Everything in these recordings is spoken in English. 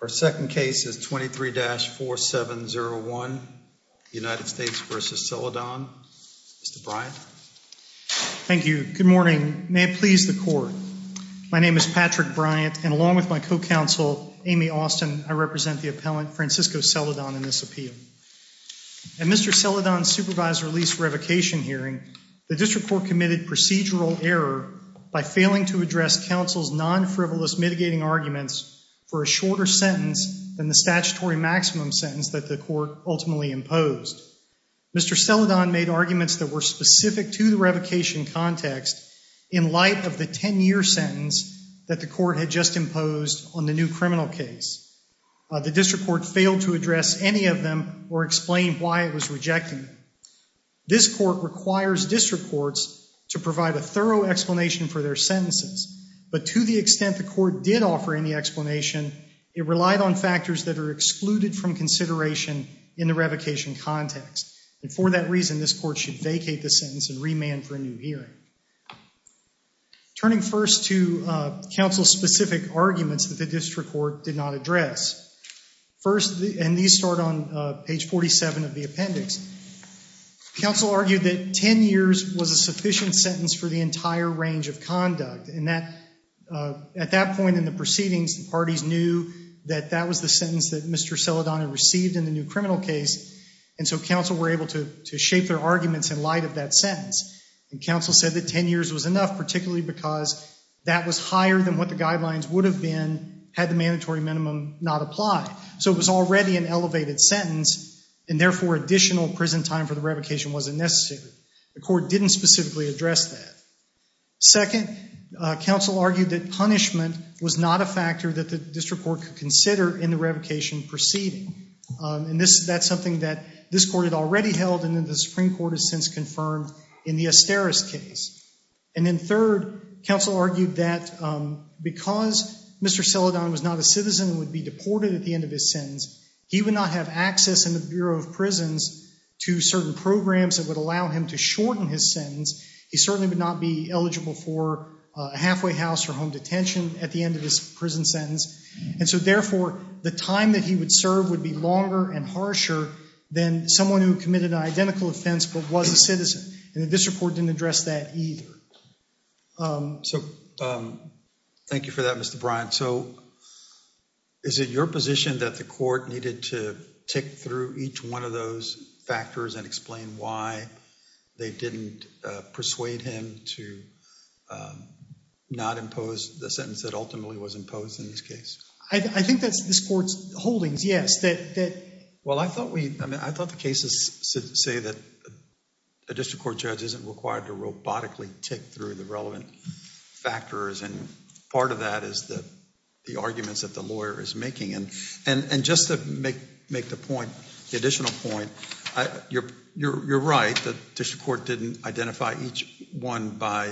Our second case is 23-4701 United States v. Celedon. Mr. Bryant. Thank you. Good morning. May it please the court. My name is Patrick Bryant and along with my co-counsel Amy Austin, I represent the appellant Francisco Celedon in this appeal. At Mr. Celedon's supervisor lease revocation hearing, the district court committed procedural error by failing to address counsel's non-frivolous mitigating arguments for a shorter sentence than the statutory maximum sentence that the court ultimately imposed. Mr. Celedon made arguments that were specific to the revocation context in light of the 10-year sentence that the court had just imposed on the new criminal case. The district court failed to address any of them or explain why it was rejected. This court requires district courts to provide a thorough explanation for their sentences, but to the extent the court did offer any explanation, it relied on factors that are excluded from consideration in the revocation context, and for that reason this court should vacate the sentence and remand for a new hearing. Turning first to counsel's specific arguments that the district court did not address. First, and these start on page 47 of the appendix, counsel argued that 10 years was a sufficient sentence for the entire range of conduct, and that at that point in the proceedings, the parties knew that that was the sentence that Mr. Celedon had received in the new criminal case, and so counsel were able to shape their arguments in light of that sentence. And counsel said that 10 years was enough, particularly because that was higher than what the guidelines would have been had the mandatory minimum not applied. So it was already an elevated sentence, and therefore additional prison time for the revocation wasn't necessary. The court didn't specifically address that. Second, counsel argued that punishment was not a factor that the district court could consider in the revocation proceeding, and that's something that this court had already held and that the Supreme Court has since confirmed in the Asteris case. And then third, counsel argued that because Mr. Celedon was not a citizen and would be deported at the end of his sentence, he would not have access in the Bureau of Prisons to certain programs that would allow him to shorten his sentence. He certainly would not be eligible for a halfway house or home detention at the end of his prison sentence, and so therefore the time that he would serve would be longer and harsher than someone who committed an identical offense but was a citizen, and the district court didn't address that either. So thank you for that, Mr. Bryant. So is it your position that the court needed to tick through each one of those factors and explain why they didn't persuade him to not impose the sentence that ultimately was imposed in this case? I think that's this court's holdings, yes. Well, I thought we, I mean, I thought the cases say that a district court judge isn't required to robotically tick through the relevant factors, and part of that is that the arguments that the lawyer is making, and just to make the point, the additional point, you're right, the district court didn't identify each one by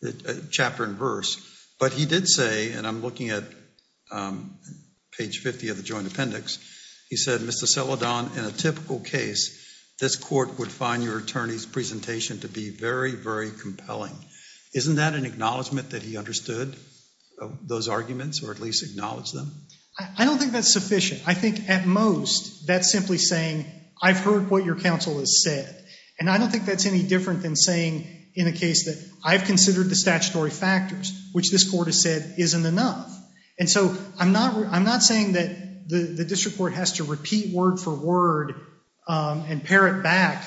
the chapter and verse, but he did say, and I'm looking at page 50 of the Joint Appendix, he said, Mr. Celedon, in a typical case, this court would find your attorney's presentation to be very, very compelling. Isn't that an acknowledgment that he understood those arguments or at least acknowledged them? I don't think that's sufficient. I think at most that's simply saying, I've heard what your counsel has said, and I don't think that's any different than saying in a case that I've considered the statutory factors, which this court has said isn't enough, and so I'm not, I'm not saying that the district court has to repeat word for word and parrot back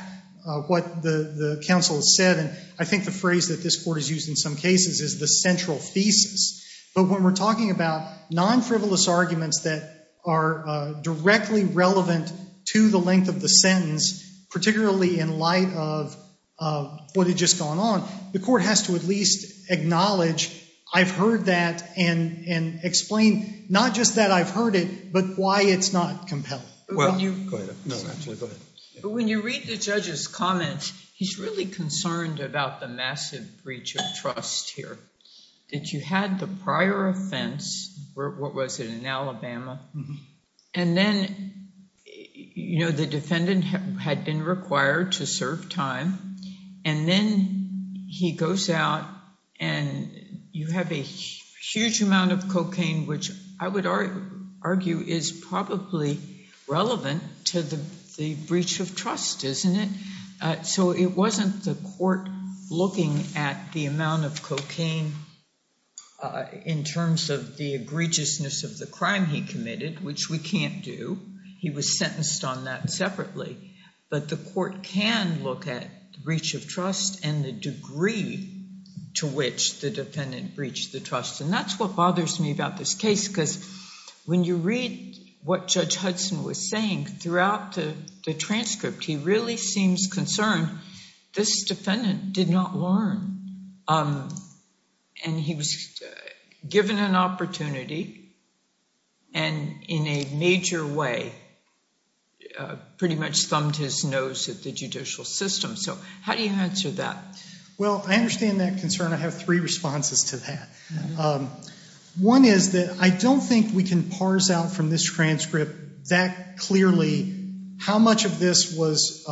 what the counsel has said, and I think the phrase that this court has used in some cases is the central thesis, but when we're talking about non-frivolous arguments that are directly relevant to the length of the sentence, particularly in light of what had just gone on, the court has to at least acknowledge, I've heard that, and and explain not just that I've heard it, but why it's not compelling. When you read the judge's comments, he's really concerned about the massive breach of trust here, that you had the prior offense, what was it, in Alabama, and then, you know, the defendant had been required to serve time, and then he goes out and you have a huge amount of cocaine, which I would argue is probably relevant to the breach of trust, isn't it? So it wasn't the court looking at the amount of cocaine in terms of the egregiousness of the crime he committed, which we can't do, he was sentenced on that separately, but the court can look at breach of trust and the degree to which the defendant breached the trust, and that's what bothers me about this case, because when you read what Judge Hudson was saying throughout the transcript, he really seems concerned this defendant did not learn, and he was given an opportunity, and in a major way, pretty much thumbed his nose at the judicial system, so how do you answer that? Well, I understand that concern, I have three responses to that. One is that I don't think we can parse out from this transcript that clearly how much of this was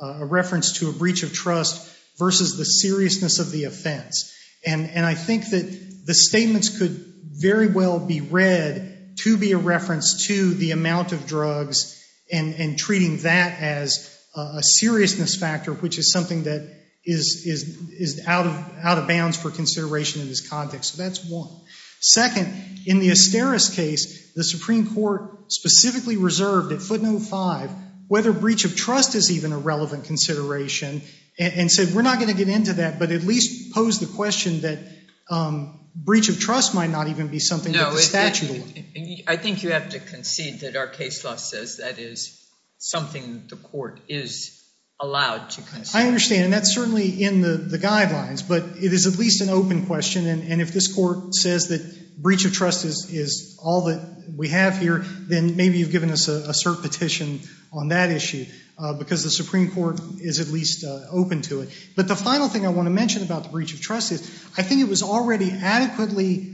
a reference to a breach of trust versus the seriousness of the offense, and I think that the statements could very well be read to be a reference to the amount of drugs and treating that as a seriousness factor, which is something that is out of bounds for consideration in this context, so that's one. Second, in the Asteris case, the Supreme Court specifically reserved at footnote five whether breach of trust is even a relevant consideration, and said we're not going to get into that, but at least pose the question that breach of trust might not even be something that the statute will. I think you have to concede that our case law says that is something the court is allowed to consider. I understand, and that's certainly in the guidelines, but it is at least an open question, and if this Court says that breach of trust is all that we have here, then maybe you've given us a cert petition on that issue, because the Supreme Court is at least open to it. But the final thing I want to mention about the breach of trust is, I think it was already adequately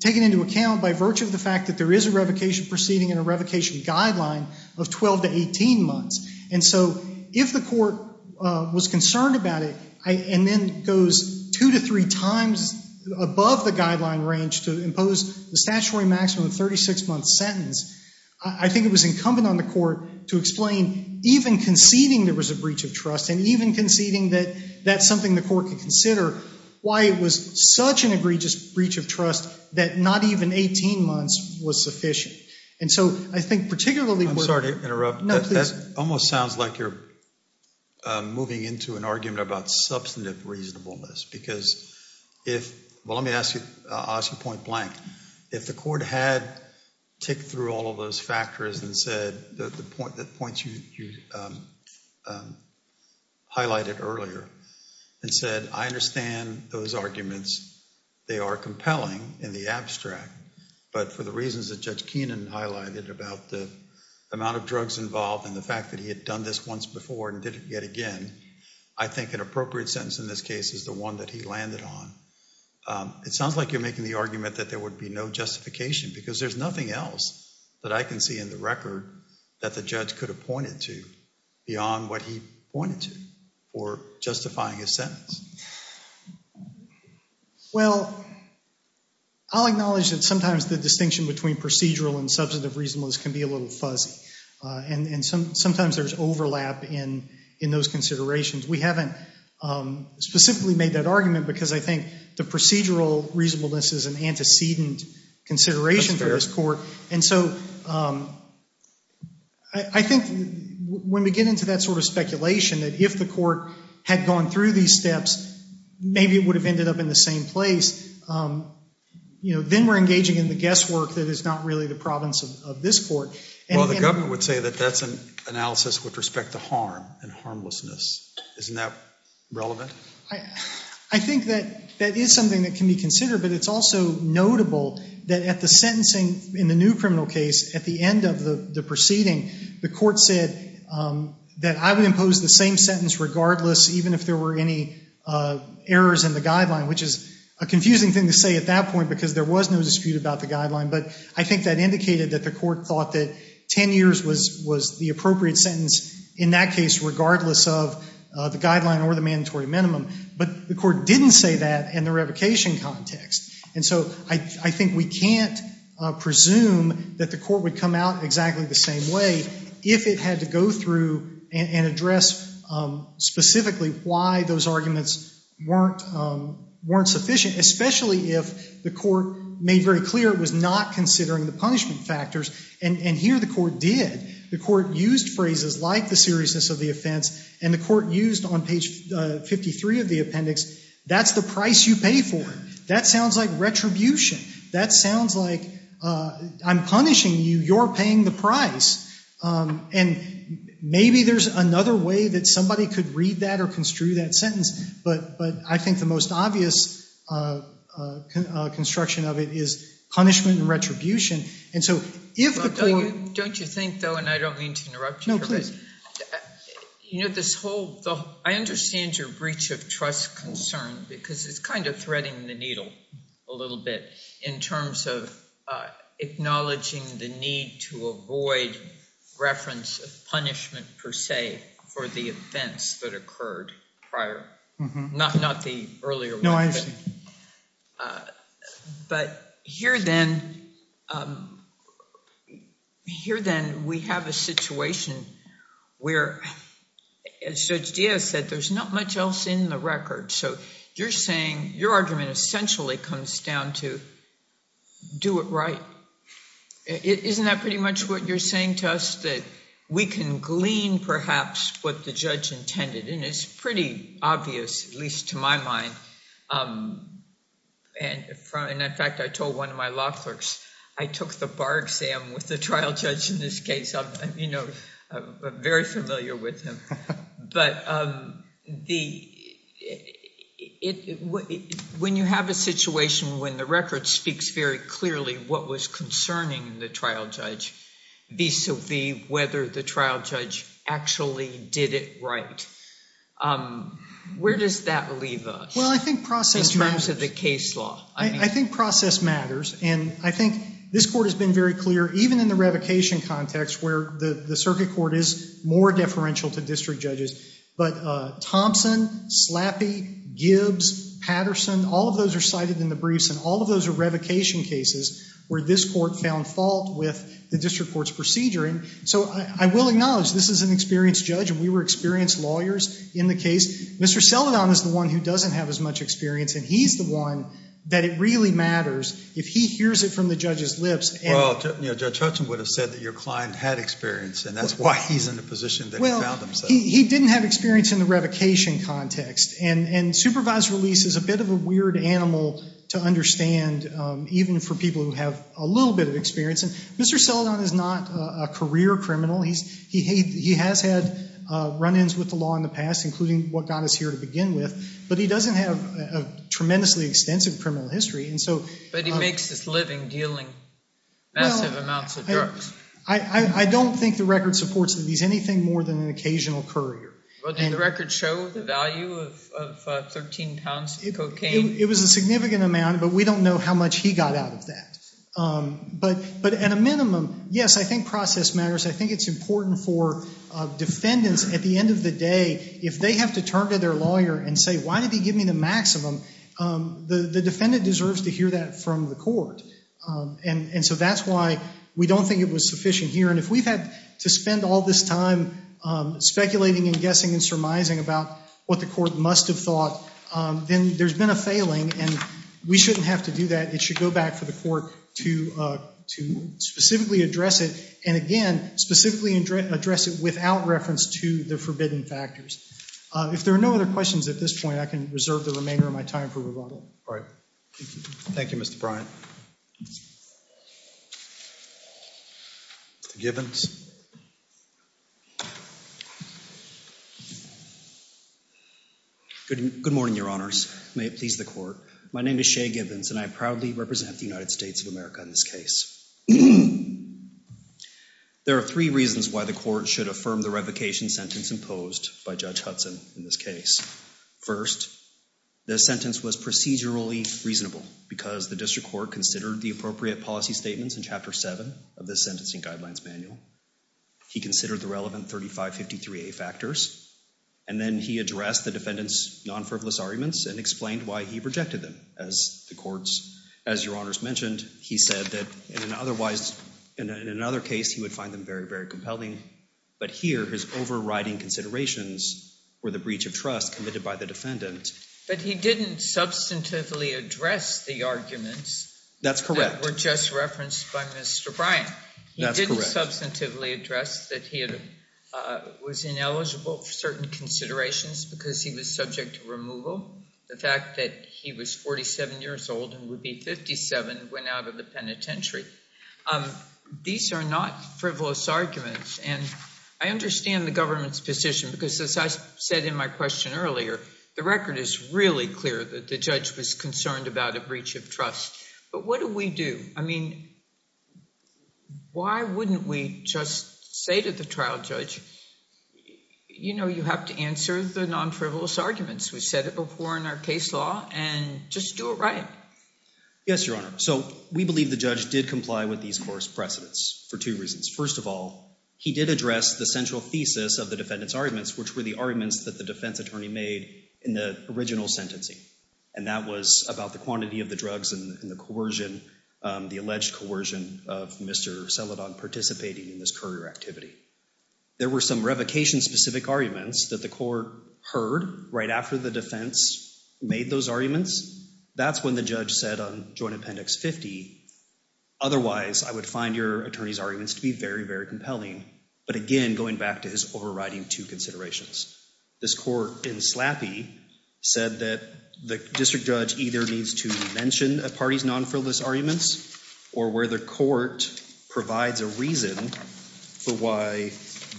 taken into account by virtue of the fact that there is a revocation proceeding and a revocation guideline of 12 to 18 months, and so if the court was concerned about it, and then goes two to three times above the guideline range to impose the statutory maximum 36-month sentence, I think it was incumbent on the court to explain, even conceding there was a breach of trust, and even conceding that that's something the court could consider, why it was such an egregious breach of trust that not even 18 months was sufficient. And so I think particularly... I'm sorry to interrupt, that almost sounds like you're moving into an argument about substantive reasonableness, because if, well let me ask you, I'll ask you point-blank, if the court had ticked through all of those factors and said that the point that points you highlighted earlier, and said I understand those arguments, they are compelling in the abstract, but for the reasons that Judge Keenan highlighted about the amount of drugs involved and the fact that he had done this once before and did it yet again, I think an appropriate sentence in this case is the one that he landed on. It sounds like you're making the argument that there would be no justification, because there's nothing else that I can see in the record that the judge could have pointed to beyond what he pointed to for justifying his sentence. Well, I'll acknowledge that sometimes the distinction between procedural and substantive reasonableness can be a little fuzzy, and sometimes there's overlap in those considerations. We haven't specifically made that argument because I think the procedural reasonableness is an antecedent consideration for this court, and so I think when we get into that sort of speculation that if the court had gone through these steps, maybe it would have ended up in the same place, you know, then we're engaging in the guesswork that is not really the province of this court. Well, the government would say that that's an analysis with respect to harm and harmlessness. Isn't that relevant? I think that that is something that can be considered, but it's also notable that at the sentencing in the new criminal case, at the end of the proceeding, the court said that I would impose the same sentence regardless, even if there were any errors in the guideline, which is a dispute about the guideline, but I think that indicated that the court thought that 10 years was the appropriate sentence in that case regardless of the guideline or the mandatory minimum, but the court didn't say that in the revocation context, and so I think we can't presume that the court would come out exactly the same way if it had to go through and address specifically why those arguments weren't sufficient, especially if the court made very clear it was not considering the punishment factors, and here the court did. The court used phrases like the seriousness of the offense, and the court used on page 53 of the appendix, that's the price you pay for it. That sounds like retribution. That sounds like I'm punishing you. You're paying the price, and maybe there's another way that somebody could read that or construe that sentence, but I think the most obvious construction of it is punishment and retribution, and so if the court... Don't you think though, and I don't mean to interrupt you... No, please. You know this whole... I understand your breach of trust concern because it's kind of threading the needle a little bit in terms of acknowledging the need to avoid reference of punishment per se for the offense that occurred prior, not the earlier one. No, I understand. But here then, we have a situation where, as Judge Diaz said, there's not much else in the record, so you're saying your argument essentially comes down to do it right. Isn't that pretty much what you're saying to us, that we can glean perhaps what the judge intended, and it's pretty obvious, at least to my mind, and in fact I told one of my law clerks I took the bar exam with the trial judge in this case. I'm, you know, very familiar with him, but when you have a situation when the record speaks very clearly what was concerning the trial judge vis-a-vis whether the trial judge actually did it right, where does that leave us? Well, I think process matters. In terms of the case law. I think process matters, and I think this court has been very clear, even in the revocation context where the circuit court is more deferential to district judges, but Thompson, Slappy, Gibbs, Patterson, all of those are cited in the briefs, and all of those are revocation cases where this court found fault with the district court's procedure, and so I will acknowledge this is an experienced judge, and we were experienced lawyers in the case. Mr. Celedon is the one who doesn't have as much experience, and he's the one that it really matters if he hears it from the judge's lips. Well, Judge Hutchin would have said that your client had experience, and that's why he's in the position that he found himself. Well, he didn't have experience in the revocation context, and supervised release is a bit of a weird animal to understand, even for people who have a little bit of experience, and Mr. Celedon is not a career criminal. He has had run-ins with the law in the past, including what got us here to begin with, but he doesn't have a tremendously extensive criminal history, and so... But he makes his living dealing massive amounts of drugs. I don't think the record supports that he's anything more than an occasional courier. Well, did the record show the value of 13 pounds of cocaine? It was a significant amount, but we don't know how much he got out of that, but at a minimum, yes, I think process matters. I think it's important for defendants, at the end of the day, if they have to turn to their lawyer and say, why did he give me the maximum? The defendant deserves to hear that from the court, and so that's why we don't think it was sufficient here, and if we've had to spend all this time speculating and guessing and surmising about what the court must have thought, then there's been a failing, and we shouldn't have to do that. It should go back for the court to specifically address it, and again, specifically address it without reference to the forbidden factors. If there are no other questions at this point, I can reserve the remainder of my time for rebuttal. All right, thank you, Mr. Bryant. Mr. Gibbons. Good morning, Your Honors. May it please the court. My name is Shea Gibbons, and I proudly represent the United States of America in this case. There are three reasons why the court should affirm the revocation sentence imposed by Judge Hudson in this case. First, the sentence was procedurally reasonable because the district court considered the appropriate policy statements in Chapter 7 of the Sentencing Guidelines Manual. He considered the relevant 3553A factors, and then he addressed the defendant's non-frivolous arguments and explained why he rejected them. As the courts, as Your Honors mentioned, he said that in an otherwise, in another case, he would find them very, very compelling, but here his overriding considerations were the breach of trust committed by the defendant. But he didn't substantively address the arguments. That's correct. That were just referenced by Mr. Bryant. He didn't substantively address that he was ineligible for certain considerations because he was subject to removal. The fact that he was 47 years old and would be 57 went out of the penitentiary. These are not frivolous arguments, and I understand the government's position because, as I said in my question earlier, the record is really clear that the judge was concerned about a breach of trust. But what do we do? I mean, why wouldn't we just say to the trial judge, you know, you have to answer the non-frivolous arguments? We said it before in our case law, and just do it right. Yes, Your Honor. So we believe the judge did comply with these court's precedents for two reasons. First of all, he did address the central thesis of the defendant's arguments, which were the arguments that the defense attorney made in the original sentencing, and that was about the quantity of the drugs and the coercion, the alleged coercion of Mr. Celedon participating in this courier activity. There were some revocation-specific arguments that the court heard right after the defense made those arguments. That's when the judge said on Joint Appendix 50, otherwise I would find your attorney's arguments to be very, very compelling. But again, going back to his overriding two considerations, this court in Slappy said that the district judge either needs to mention a party's non-frivolous arguments or where the court provides a reason for why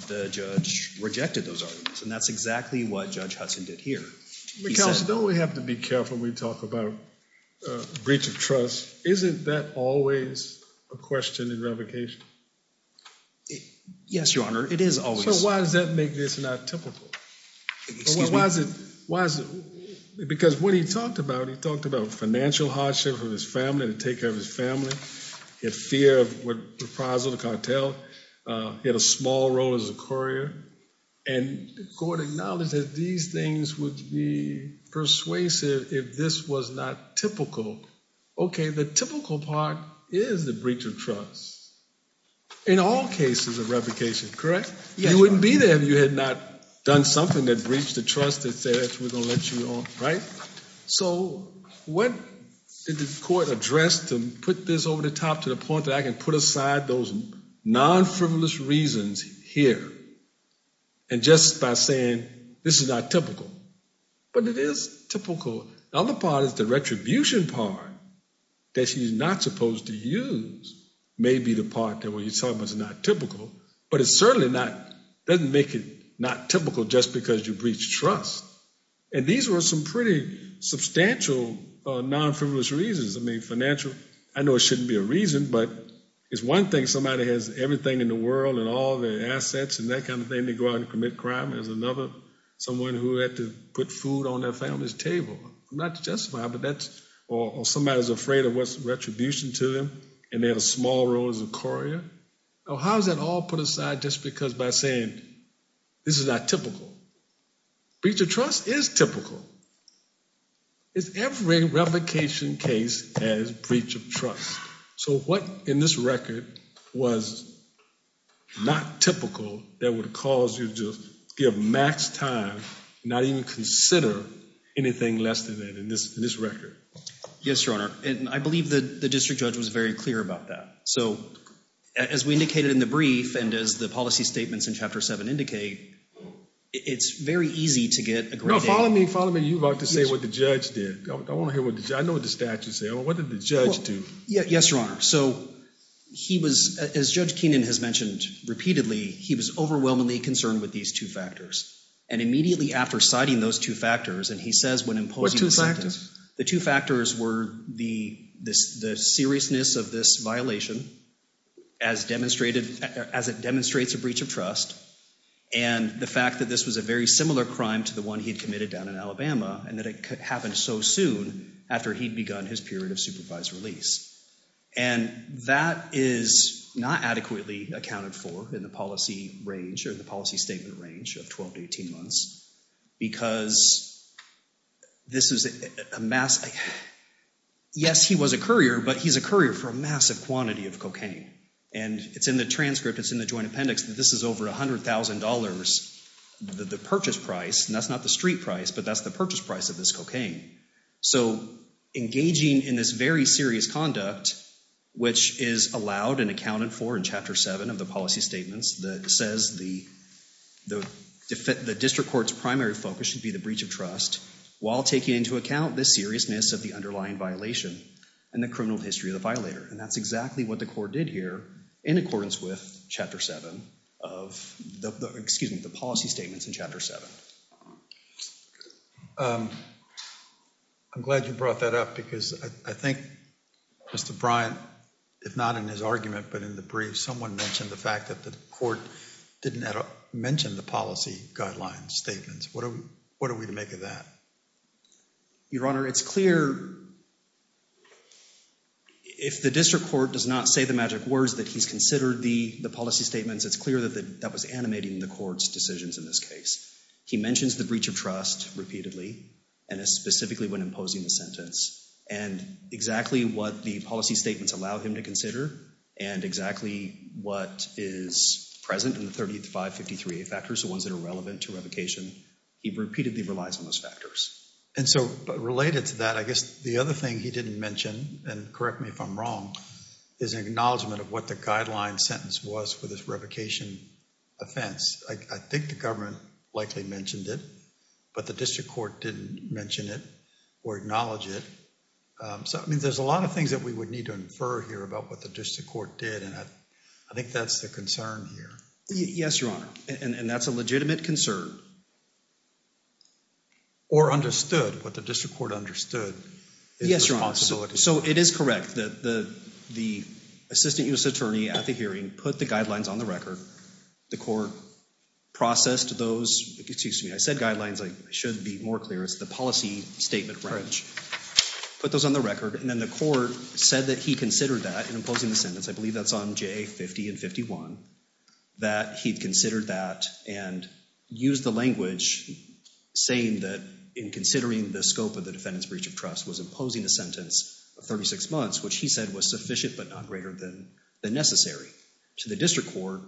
the judge rejected those arguments, and that's exactly what Judge Hudson did here. Counsel, don't we have to be careful when we talk about breach of trust? Isn't that always a question in revocation? Yes, Your Honor, it is always. So why does that make this not typical? Because when he talked about it, he talked about financial hardship for his family, to take care of his family, his fear of what the prize of the cartel, he had a small role as a courier, and the court acknowledged that these things would be persuasive if this was not typical. Okay, the typical part is the breach of trust. In all cases of revocation, correct? Yes, Your Honor. You wouldn't be there if you had not done something that breached the trust that says we're gonna let you on, right? So what did the court address to put this over the top to the point that I can put aside those non-frivolous reasons here and just by saying this is not typical? But it is typical. The other part is the retribution part that she's not supposed to use may be the part that what you're talking about is not typical, but it certainly doesn't make it not typical just because you breached trust. And these were some pretty substantial non-frivolous reasons. I mean, financial, I know it shouldn't be a reason, but it's one thing somebody has everything in the world and all their assets and that kind of thing to go out and commit crime. There's another, someone who had to put food on their family's table. Not to justify, but that's, or somebody's afraid of what's retribution to them, and they had a small role as a courier. How's that all put aside just because by saying this is not typical? Breach of trust is typical. It's every revocation case as breach of trust. So what in this record was not typical that would cause you to give max time, not even consider anything less than that in this record? Yes, Your Honor, and I believe that the judge was very clear about that. So as we indicated in the brief, and as the policy statements in Chapter 7 indicate, it's very easy to get... No, follow me, follow me. You're about to say what the judge did. I want to hear what the judge, I know what the statute said. What did the judge do? Yes, Your Honor. So he was, as Judge Keenan has mentioned repeatedly, he was overwhelmingly concerned with these two factors. And immediately after citing those two factors, and he says when posing the sentence. What two factors? The two factors were the seriousness of this violation as demonstrated, as it demonstrates a breach of trust, and the fact that this was a very similar crime to the one he had committed down in Alabama, and that it could happen so soon after he'd begun his period of supervised release. And that is not adequately accounted for in the policy range or the this is a mass... Yes, he was a courier, but he's a courier for a massive quantity of cocaine. And it's in the transcript, it's in the joint appendix, that this is over $100,000, the purchase price, and that's not the street price, but that's the purchase price of this cocaine. So engaging in this very serious conduct, which is allowed and accounted for in Chapter 7 of the policy statements, that says the district court's primary focus should be the breach of trust, while taking into account the seriousness of the underlying violation and the criminal history of the violator. And that's exactly what the court did here in accordance with Chapter 7 of the, excuse me, the policy statements in Chapter 7. I'm glad you brought that up because I think Mr. Bryant, if not in his argument, but in the brief, someone mentioned the fact that the court didn't mention the policy guidelines statements. What are we to make of that? Your Honor, it's clear if the district court does not say the magic words that he's considered the policy statements, it's clear that that was animating the court's decisions in this case. He mentions the breach of trust repeatedly and is specifically when imposing the sentence. And exactly what the policy 553A factors, the ones that are relevant to revocation, he repeatedly relies on those factors. And so, related to that, I guess the other thing he didn't mention, and correct me if I'm wrong, is an acknowledgment of what the guideline sentence was for this revocation offense. I think the government likely mentioned it, but the district court didn't mention it or acknowledge it. So, I mean, there's a lot of things that we would need to infer here about what the district court did and I think that's the concern here. Yes, Your Honor, and that's a legitimate concern. Or understood, what the district court understood. Yes, Your Honor, so it is correct that the assistant U.S. attorney at the hearing put the guidelines on the record. The court processed those, excuse me, I said guidelines, I should be more clear, it's the policy statement. Correct. Put those on the record and then the court said that he considered that in imposing the sentence. I believe that's on J. 50 and 51, that he'd considered that and used the language saying that in considering the scope of the defendant's breach of trust was imposing a sentence of 36 months, which he said was sufficient but not greater than necessary. To the district court,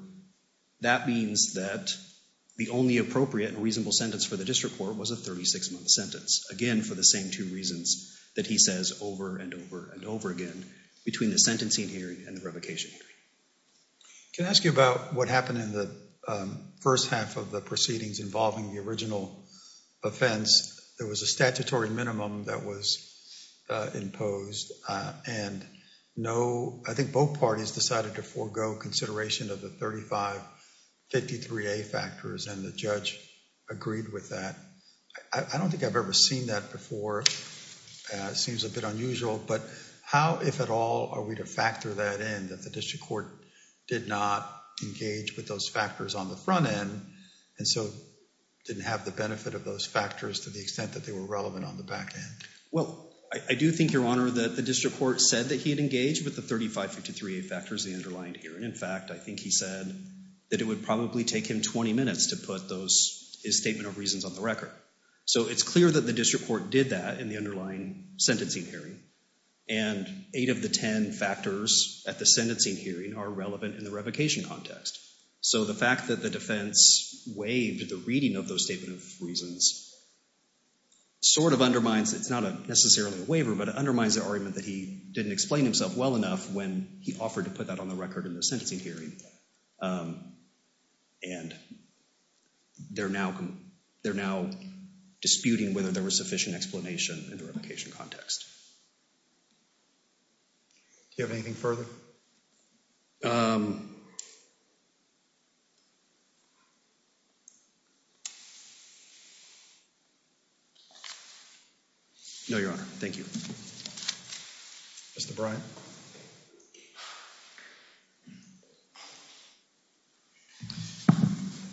that means that the only appropriate and reasonable sentence for the district court was a 36-month sentence. Again, for the same two reasons that he says over and over and over again between the sentencing hearing and the revocation hearing. Can I ask you about what happened in the first half of the proceedings involving the original offense? There was a statutory minimum that was imposed and no, I think both parties decided to forego consideration of the 35-53A factors and the judge agreed with that. I don't think I've ever seen that before. It seems a bit unusual but how, if at all, are we to factor that in that the district court did not engage with those factors on the front end and so didn't have the benefit of those factors to the extent that they were relevant on the back end? Well, I do think, Your Honor, that the district court said that he had engaged with the 35-53A factors, the underlying hearing. In fact, I think he said that it would probably take him 20 minutes to put those, his district court did that in the underlying sentencing hearing and eight of the ten factors at the sentencing hearing are relevant in the revocation context. So the fact that the defense waived the reading of those statement of reasons sort of undermines, it's not necessarily a waiver, but it undermines the argument that he didn't explain himself well enough when he offered to put that on the record in the sentencing hearing and they're now, they're now disputing whether there was sufficient explanation in the revocation context. Do you have anything further? No, Your Honor. Thank you. Mr. Bryant.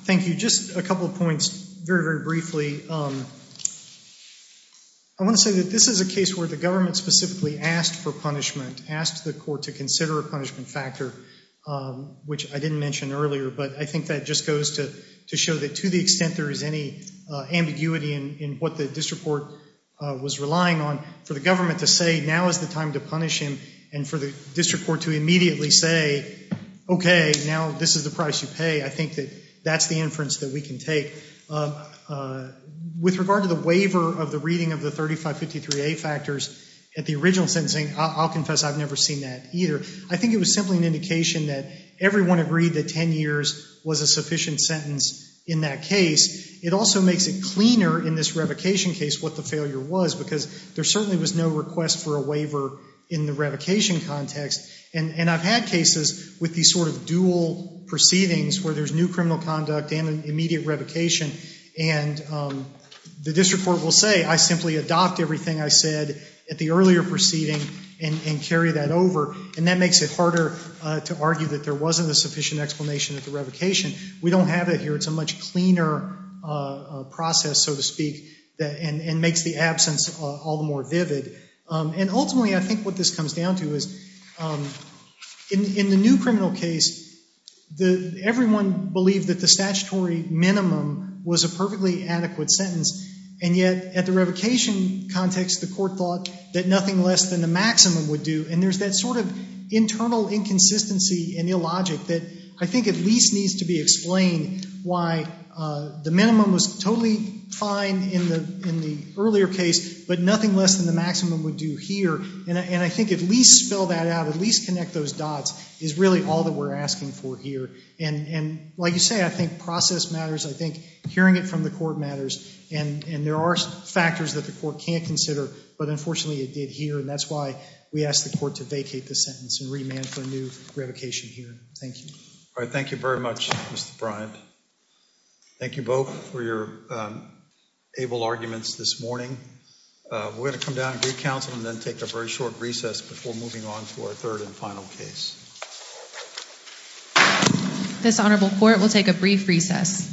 Thank you. Just a couple of points very, very briefly. I want to say that this is a case where the government specifically asked for punishment, asked the court to consider a punishment factor, which I didn't mention earlier, but I think that just goes to show that to the extent there is any ambiguity in what the district court was relying on, for the government to say now is the time to punish him and for the district court to immediately say, okay, now this is the price you pay. I think that that's the inference that we can take. With regard to the waiver of the reading of the 3553A factors at the original sentencing, I'll confess I've never seen that either. I think it was simply an indication that everyone agreed that ten years was a sufficient sentence in that case. It also makes it cleaner in this revocation case what the failure was because there certainly was no request for a waiver in the revocation context and I've had cases with these sort of dual proceedings where there's new criminal conduct and an immediate revocation and the district court will say I simply adopt everything I said at the earlier proceeding and carry that over and that makes it harder to argue that there wasn't a sufficient explanation at the revocation. We don't have it here. It's a much cleaner process, so to speak, that makes the absence all the more vivid and ultimately I think what this comes down to is in the new criminal case everyone believed that the statutory minimum was a perfectly adequate sentence and yet at the revocation context the court thought that nothing less than the maximum would do and there's that sort of internal inconsistency and illogic that I think at least needs to be explained why the minimum was totally fine in the earlier case but nothing less than the maximum would do here and I think at least spell that out, at least connect those dots is really all that we're asking for here and like you say I think process matters. I think hearing it from the court matters and there are factors that the court can't consider but unfortunately it did here and that's why we asked the court to vacate the sentence and remand for a new revocation here. Thank you. All right, thank you very much Mr. Bryant. Thank you both for your able arguments this morning. We're going to come down and do counsel and then take a very short recess before moving on to our third and final case. This honorable court will take a brief recess.